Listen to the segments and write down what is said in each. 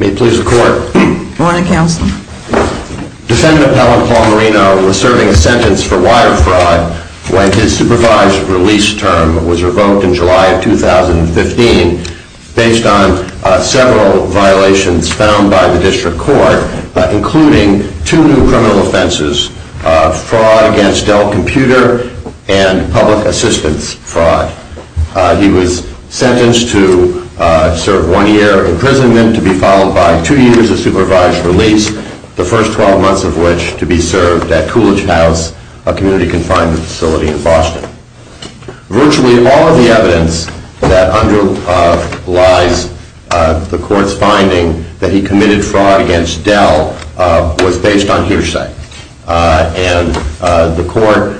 May it please the court. Defendant Appellant Paul Marino was serving a sentence for wire fraud when his supervised release term was revoked in July of 2015 based on several violations found by the district court, including two new criminal offenses, fraud against Dell Computer and public assistance fraud. He was sentenced to serve one year imprisonment to be followed by two years of supervised release, the first 12 months of which to be served at Coolidge House, a community confinement facility in Boston. Virtually all of the evidence that underlies the court's finding that he committed fraud against Dell was based on hearsay, and the court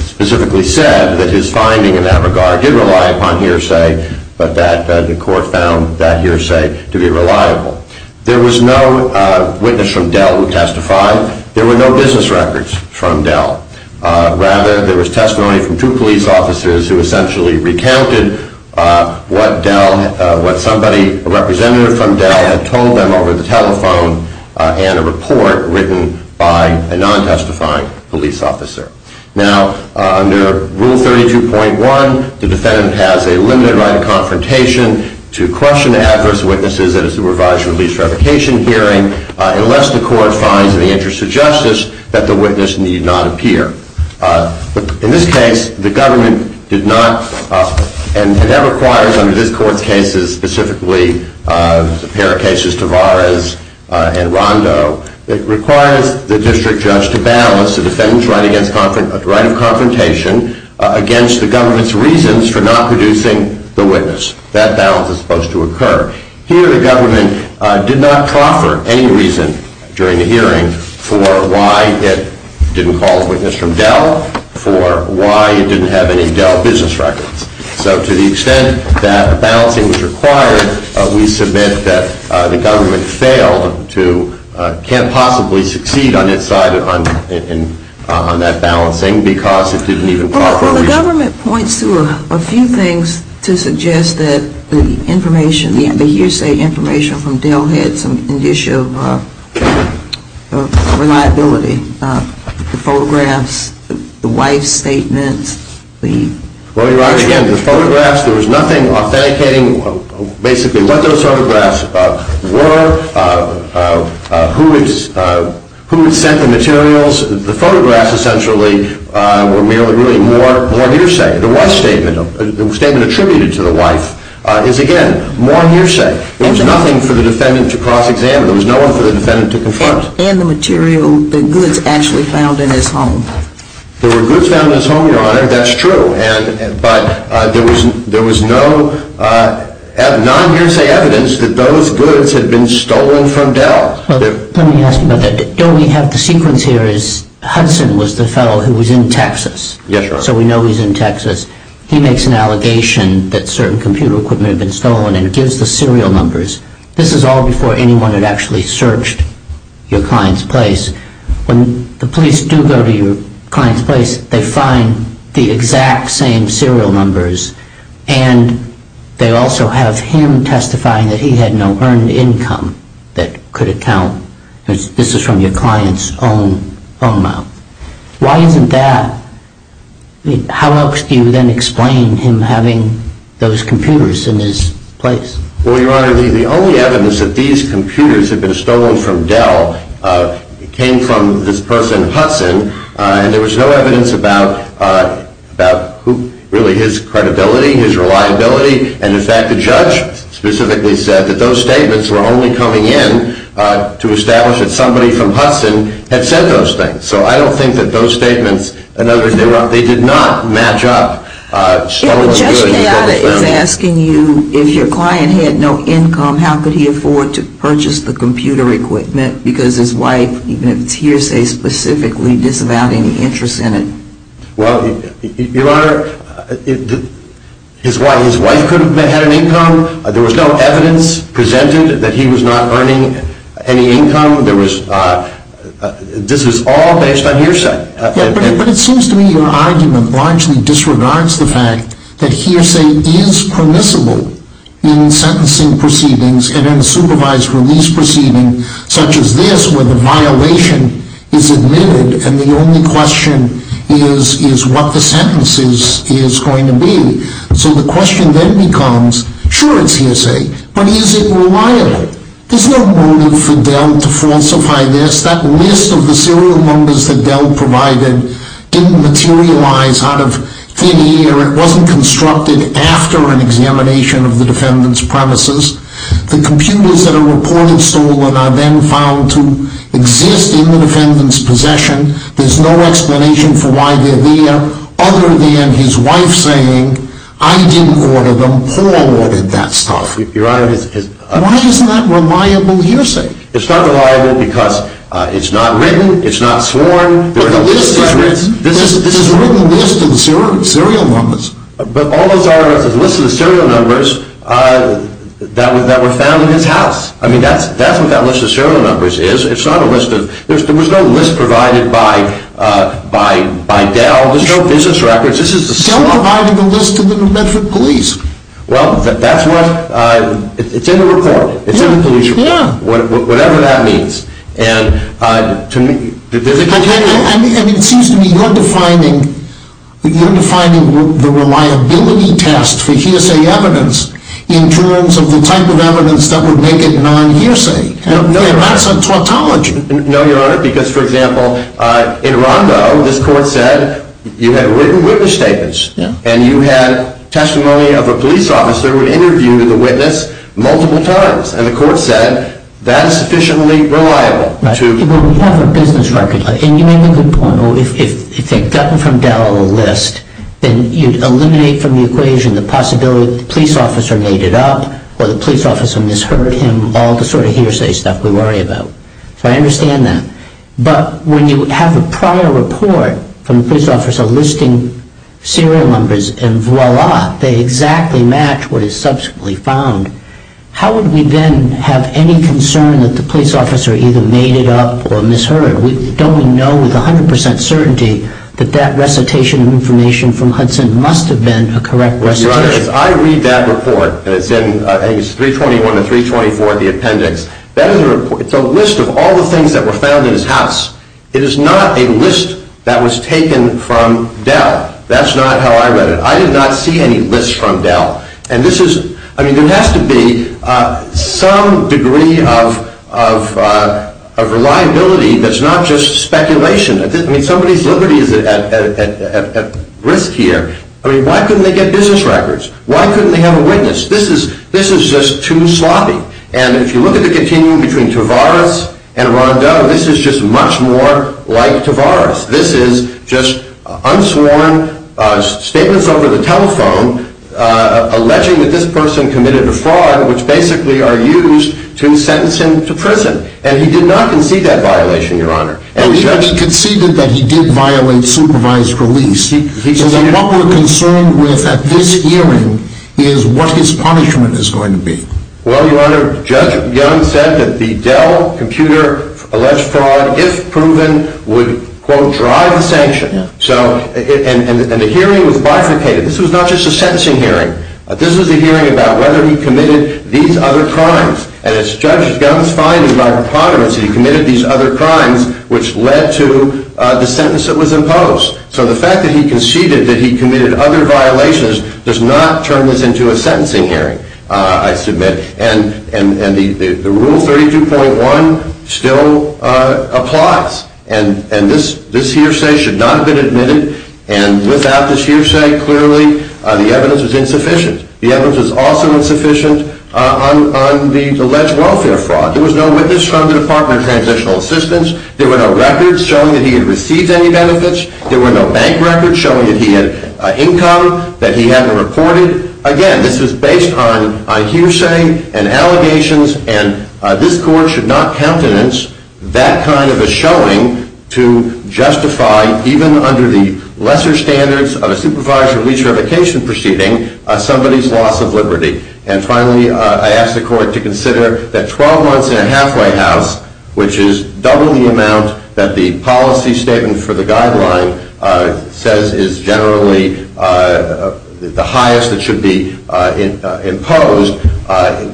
specifically said that his finding in that regard did rely upon hearsay, but that the court found that hearsay to be reliable. There was no witness from Dell who testified. There were no business records from Dell. Rather, there was testimony from two police officers who essentially recounted what somebody, a representative from Dell, had told them over the telephone and a report written by a non-testifying police officer. Now, under Rule 32.1, the defendant has a limited right of confrontation to question adverse witnesses at a supervised release revocation hearing unless the court finds in the interest of justice that the witness need not appear. In this case, the government did not, and that requires under this court's cases, specifically the pair of cases Tavares and Rondo, it requires the district judge to balance the defendant's right of confrontation against the government's reasons for not producing the witness. That balance is supposed to occur. Here, the government did not proffer any reason during the hearing for why it didn't call a witness from Dell, for why it didn't have any Dell business records. So to the extent that balancing was required, we submit that the government failed to, can't possibly succeed on its side on that balancing because it didn't even proffer a reason. Well, the government points to a few things to suggest that the information, the hearsay information from Dell had some issue of reliability. The photographs, the wife's statements. Well, Your Honor, again, the photographs, there was nothing authenticating basically what those photographs were, who had sent the materials. The photographs, essentially, were really more hearsay. The statement attributed to the wife is, again, more hearsay. There was nothing for the defendant to cross-examine. There was no one for the defendant to confront. And the material, the goods actually found in his home. There were goods found in his home, Your Honor, that's true. But there was no non-hearsay evidence that those goods had been stolen from Dell. Well, let me ask you about that. Don't we have the sequence here is Hudson was the fellow who was in Texas. So we know he's in Texas. He makes an allegation that certain computer equipment had been stolen and gives the serial numbers. This is all before anyone had actually searched your client's place. When the police do go to your client's place, they find the exact same serial numbers. And they also have him testifying that he had no earned income that could account. This is from your client's own phone number. Why isn't that? How else do you then explain him having those computers in his place? Well, Your Honor, the only evidence that these computers had been stolen from Dell came from this person, Hudson. And there was no evidence about really his credibility, his reliability. And in fact, the judge specifically said that those statements were only coming in to establish that somebody from Hudson had said those things. So I don't think that those statements, in other words, they did not match up. Yeah, but Judge Peata is asking you, if your client had no income, how could he afford to purchase the computer equipment because his wife, even if it's hearsay specifically, disavowed any interest in it? Well, Your Honor, his wife could have had an income. There was no evidence presented that he was not earning any income. This is all based on hearsay. Yeah, but it seems to me your argument largely disregards the fact that hearsay is permissible in sentencing proceedings and in supervised release proceedings such as this where the violation is admitted and the only question is what the sentence is going to be. So the question then becomes, sure it's hearsay, but is it reliable? There's no motive for Dell to falsify this. That list of the serial numbers that Dell provided didn't materialize out of thin air. It wasn't constructed after an examination of the defendant's premises. The computers that are reported stolen are then found to exist in the defendant's possession. There's no explanation for why they're there other than his wife saying, I didn't order them, Paul ordered that stuff. Why isn't that reliable hearsay? It's not reliable because it's not written, it's not sworn, there are no business records. This is a written list of serial numbers. But all those are lists of the serial numbers that were found in his house. I mean, that's what that list of serial numbers is. There was no list provided by Dell, there's no business records. Dell provided a list to the New Bedford police. Well, that's what, it's in the report, it's in the police report, whatever that means. And it seems to me you're defining the reliability test for hearsay evidence in terms of the type of evidence that would make it non-hearsay. No, Your Honor. That's a tautology. No, Your Honor, because, for example, in Rondo, this court said you had written witness statements, and you had testimony of a police officer who had interviewed the witness multiple times. And the court said that is sufficiently reliable. Well, we have a business record, and you make a good point. If they'd gotten from Dell a list, then you'd eliminate from the equation the possibility that the police officer made it up, or the police officer misheard him, all the sort of hearsay stuff we worry about. So I understand that. But when you have a prior report from a police officer listing serial numbers, and voila, they exactly match what is subsequently found, how would we then have any concern that the police officer either made it up or misheard? We don't know with 100% certainty that that recitation of information from Hudson must have been a correct recitation. Your Honor, as I read that report, and it's in, I think it's 321 to 324, the appendix, that is a list of all the things that were found in his house. It is not a list that was taken from Dell. That's not how I read it. I did not see any lists from Dell. And this is, I mean, there has to be some degree of reliability that's not just speculation. I mean, somebody's liberty is at risk here. I mean, why couldn't they get business records? Why couldn't they have a witness? This is just too sloppy. And if you look at the continuum between Tavares and Rondeau, this is just much more like Tavares. This is just unsworn statements over the telephone alleging that this person committed a fraud, which basically are used to sentence him to prison. And he did not concede that violation, Your Honor. He conceded that he did violate supervised release. So then what we're concerned with at this hearing is what his punishment is going to be. Well, Your Honor, Judge Gunn said that the Dell computer alleged fraud, if proven, would, quote, drive the sanction. And the hearing was bifurcated. This was not just a sentencing hearing. This was a hearing about whether he committed these other crimes. And as Judge Gunn's finding by preponderance, he committed these other crimes, which led to the sentence that was imposed. So the fact that he conceded that he committed other violations does not turn this into a sentencing hearing, I submit. And the Rule 32.1 still applies. And this hearsay should not have been admitted. And without this hearsay, clearly, the evidence was insufficient. The evidence was also insufficient on the alleged welfare fraud. There was no witness from the Department of Transitional Assistance. There were no records showing that he had received any benefits. There were no bank records showing that he had income that he hadn't reported. Again, this was based on hearsay and allegations. And this Court should not countenance that kind of a showing to justify, even under the lesser standards of a supervisory re-certification proceeding, somebody's loss of liberty. And finally, I ask the Court to consider that 12 months in a halfway house, which is double the amount that the policy statement for the guideline says is generally the highest that should be imposed,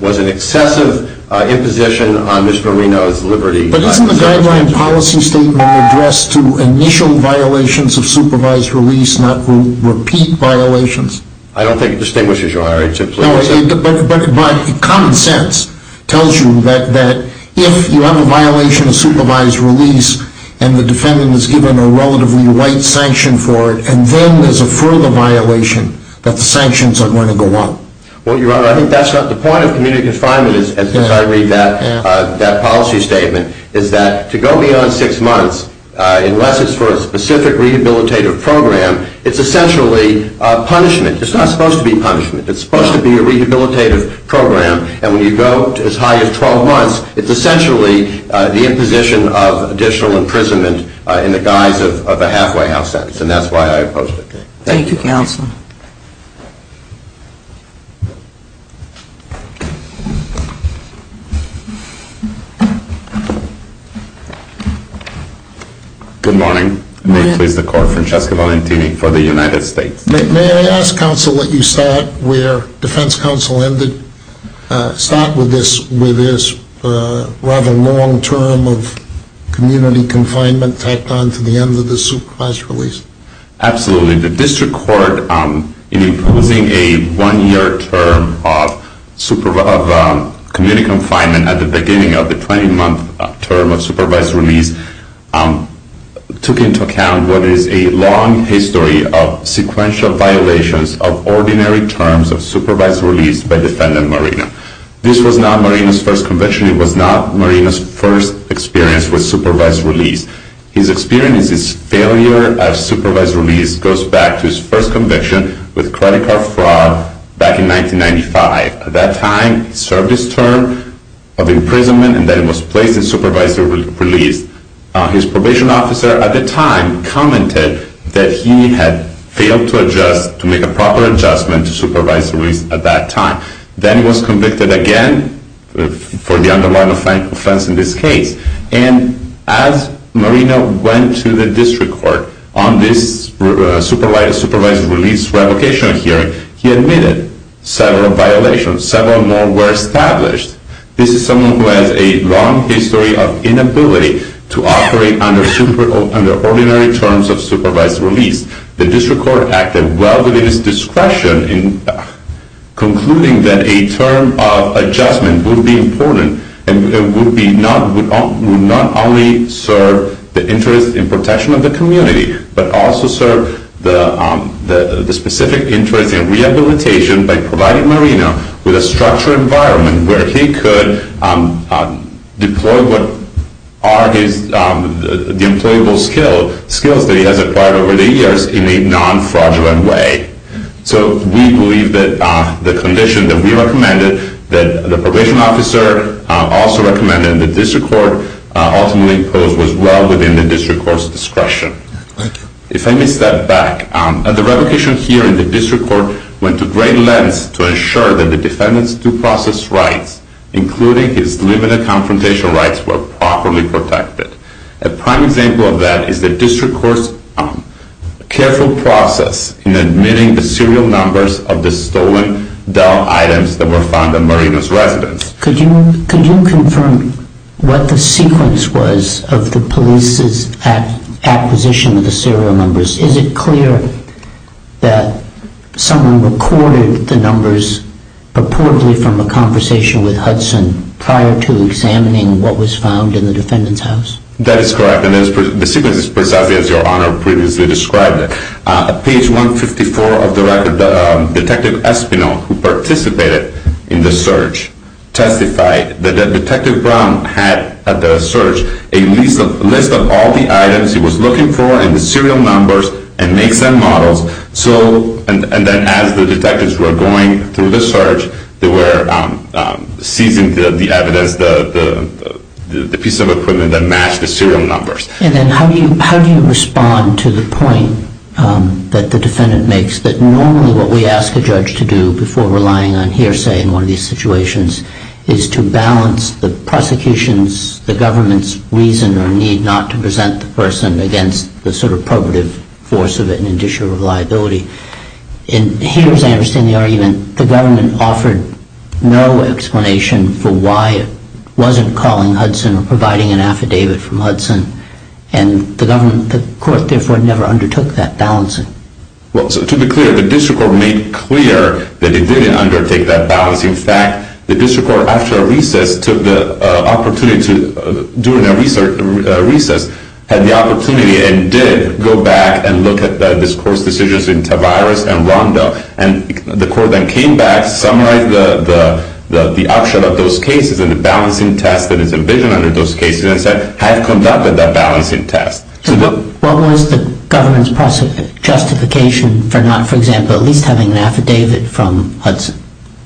was an excessive imposition on Mr. Reno's liberty. But isn't the guideline policy statement addressed to initial violations of supervised release, not repeat violations? I don't think it distinguishes, Your Honor. No, but common sense tells you that if you have a violation of supervised release and the defendant is given a relatively light sanction for it, and then there's a further violation, that the sanctions are going to go up. Well, Your Honor, I think that's not the point of community confinement, as I read that policy statement, is that to go beyond six months, unless it's for a specific rehabilitative program, it's essentially punishment. It's not supposed to be punishment. It's supposed to be a rehabilitative program. And when you go as high as 12 months, it's essentially the imposition of additional imprisonment in the guise of a halfway house sentence. And that's why I opposed it. Thank you, Counsel. Good morning. May it please the Court, Francesco Valentini for the United States. May I ask, Counsel, that you start where defense counsel ended, start with this rather long term of community confinement tacked on to the end of the supervised release? Absolutely. The district court, in imposing a one-year term of community confinement at the beginning of the 20-month term of supervised release, took into account what is a long history of sequential violations of ordinary terms of supervised release by defendant Marina. This was not Marina's first conviction. It was not Marina's first experience with supervised release. His experience is failure of supervised release goes back to his first conviction with credit card fraud back in 1995. At that time, he served his term of imprisonment and then was placed in supervised release. His probation officer at the time commented that he had failed to adjust, to make a proper adjustment to supervised release at that time. Then he was convicted again for the underlying offense in this case. And as Marina went to the district court on this supervised release revocation hearing, he admitted several violations. Several more were established. This is someone who has a long history of inability to operate under ordinary terms of supervised release. The district court acted well within its discretion in concluding that a term of adjustment would be important and would not only serve the interest in protection of the community, but also serve the specific interest in rehabilitation by providing Marina with a structured environment where he could deploy what are the employable skills that he has acquired over the years in a non-fraudulent way. So we believe that the condition that we recommended, that the probation officer also recommended, and the district court ultimately imposed was well within the district court's discretion. If I may step back, the revocation hearing in the district court went to great lengths to ensure that the defendant's due process rights, including his limited confrontation rights, were properly protected. A prime example of that is the district court's careful process in admitting the serial numbers of the stolen doll items that were found in Marina's residence. Could you confirm what the sequence was of the police's acquisition of the serial numbers? Is it clear that someone recorded the numbers purportedly from a conversation with Hudson prior to examining what was found in the defendant's house? That is correct, and the sequence is precisely as Your Honor previously described it. On page 154 of the record, Detective Espinal, who participated in the search, testified that Detective Brown had at the search a list of all the items he was looking for and the serial numbers and makes and models. And then as the detectives were going through the search, they were seizing the evidence, the piece of equipment that matched the serial numbers. And then how do you respond to the point that the defendant makes that normally what we ask a judge to do before relying on hearsay in one of these situations is to balance the prosecution's, the government's, reason or need not to present the person against the sort of probative force of it in addition to reliability. In hearsay, I understand the argument, the government offered no explanation for why it wasn't calling Hudson or providing an affidavit from Hudson. And the government, the court, therefore, never undertook that balancing. Well, to be clear, the district court made clear that it didn't undertake that balancing. In fact, the district court, after a recess, took the opportunity to, during a recess, had the opportunity and did go back and look at this court's decisions in Tavares and Rondo. And the court then came back, summarized the upshot of those cases and the balancing test that is envisioned under those cases, and said, have conducted that balancing test. So what was the government's justification for not, for example, at least having an affidavit from Hudson?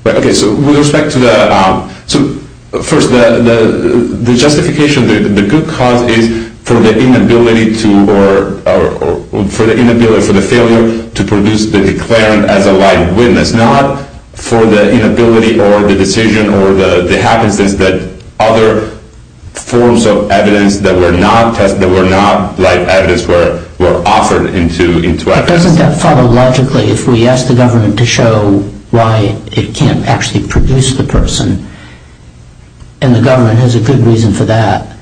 OK, so with respect to the, so first, the justification, the good cause is for the inability to, or for the inability, for the failure to produce the declarant as a live witness, not for the inability or the decision or the happenstance that other forms of evidence that were not, that were not live evidence were offered into evidence. But doesn't that follow logically if we ask the government to show why it can't actually produce the person? And the government has a good reason for that.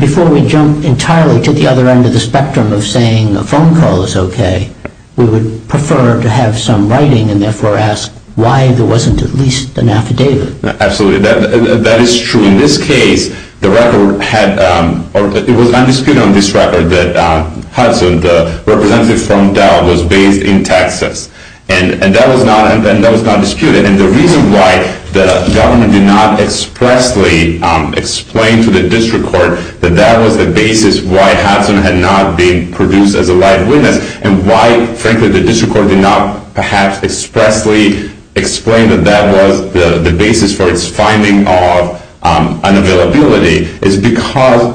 Before we jump entirely to the other end of the spectrum of saying a phone call is OK, we would prefer to have some writing and therefore ask why there wasn't at least an affidavit. Absolutely. That is true. In this case, the record had, or it was undisputed on this record that Hudson, the representative from Dell, was based in Texas. And that was not disputed. And the reason why the government did not expressly explain to the district court that that was the basis why Hudson had not been produced as a live witness, and why, frankly, the district court did not perhaps expressly explain that that was the basis for its finding of unavailability, is because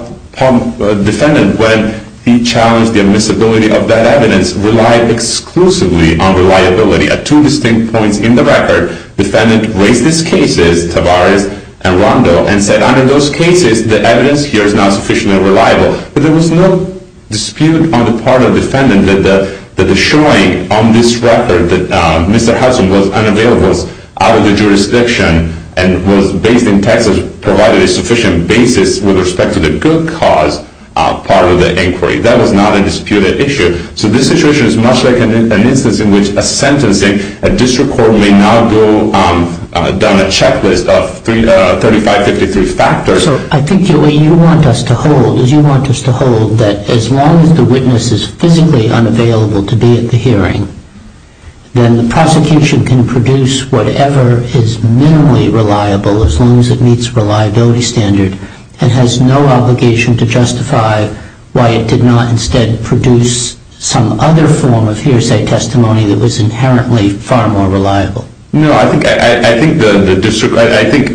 the defendant, when he challenged the admissibility of that evidence, relied exclusively on reliability at two distinct points in the record. The defendant raised these cases, Tavares and Rondo, and said under those cases, the evidence here is not sufficiently reliable. But there was no dispute on the part of the defendant that the showing on this record that Mr. Hudson was unavailable, was out of the jurisdiction, and was based in Texas provided a sufficient basis with respect to the good cause part of the inquiry. That was not a disputed issue. So this situation is much like an instance in which a sentencing, a district court may now go down a checklist of 3553 factors. So I think the way you want us to hold is you want us to hold that as long as the witness is physically unavailable to be at the hearing, then the prosecution can produce whatever is minimally reliable, as long as it meets reliability standard, and has no obligation to justify why it did not instead produce some other form of hearsay testimony that was inherently far more reliable. No, I think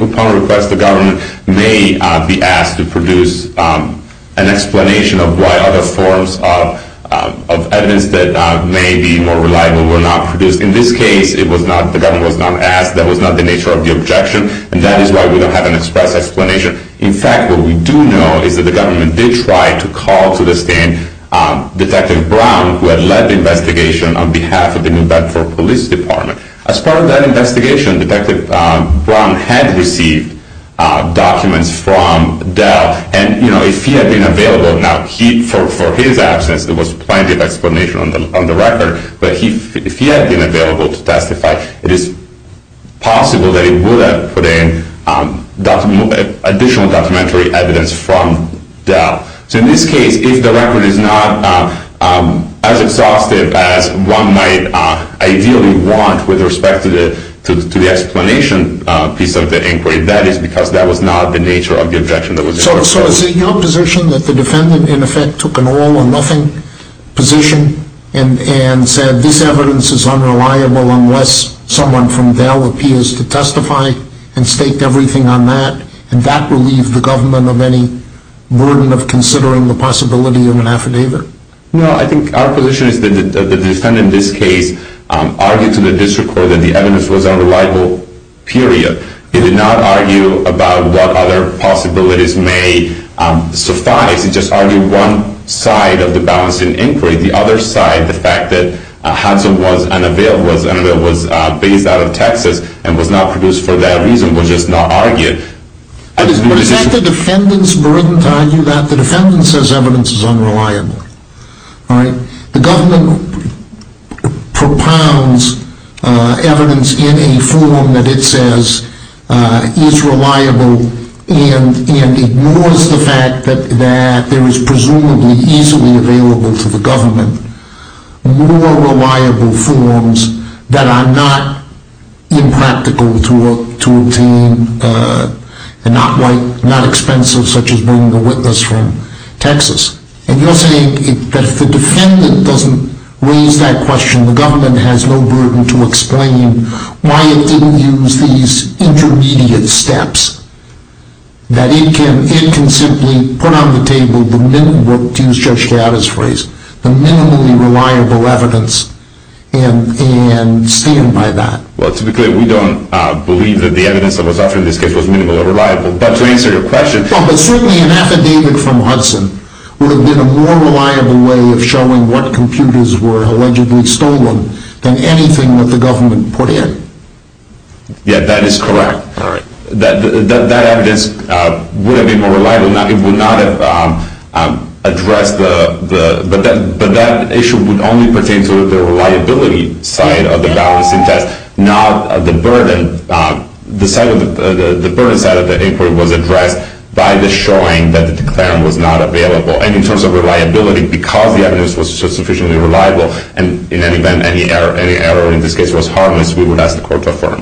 upon request, the government may be asked to produce an explanation of why other forms of evidence that may be more reliable were not produced. In this case, the government was not asked. That was not the nature of the objection. And that is why we don't have an express explanation. In fact, what we do know is that the government did try to call to the stand Detective Brown, who had led the investigation on behalf of the New Bedford Police Department. As part of that investigation, Detective Brown had received documents from Dell. And if he had been available, now for his absence, there was plenty of explanation on the record. But if he had been available to testify, it is possible that he would have put in additional documentary evidence from Dell. So in this case, if the record is not as exhaustive as one might ideally want with respect to the explanation piece of the inquiry, that is because that was not the nature of the objection. So is it your position that the defendant in effect took an all or nothing position and said this evidence is unreliable unless someone from Dell appears to testify and state everything on that? And that relieved the government of any burden of considering the possibility of an affidavit? No, I think our position is that the defendant in this case argued to the district court that the evidence was unreliable, period. He did not argue about what other possibilities may suffice. He just argued one side of the balancing inquiry. The other side, the fact that Hudson was based out of Texas and was not produced for that reason, was just not argued. But is that the defendant's burden to argue that the defendant says evidence is unreliable? The government propounds evidence in a form that it says is reliable and ignores the fact that there is presumably easily available to the government more reliable forms that are not impractical to obtain and not expensive, such as bringing a witness from Texas. And you're saying that if the defendant doesn't raise that question, the government has no burden to explain why it didn't use these intermediate steps. That it can simply put on the table, to use Judge Chiara's phrase, the minimally reliable evidence and stand by that. Well, to be clear, we don't believe that the evidence that was offered in this case was minimally reliable. But certainly an affidavit from Hudson would have been a more reliable way of showing what computers were allegedly stolen than anything that the government put in. Yeah, that is correct. That evidence would have been more reliable. But that issue would only pertain to the reliability side of the balancing test, not the burden. The burden side of the inquiry was addressed by the showing that the declarant was not available. And in terms of reliability, because the evidence was sufficiently reliable, and in any event, any error in this case was harmless, we would ask the court to affirm. Thank you.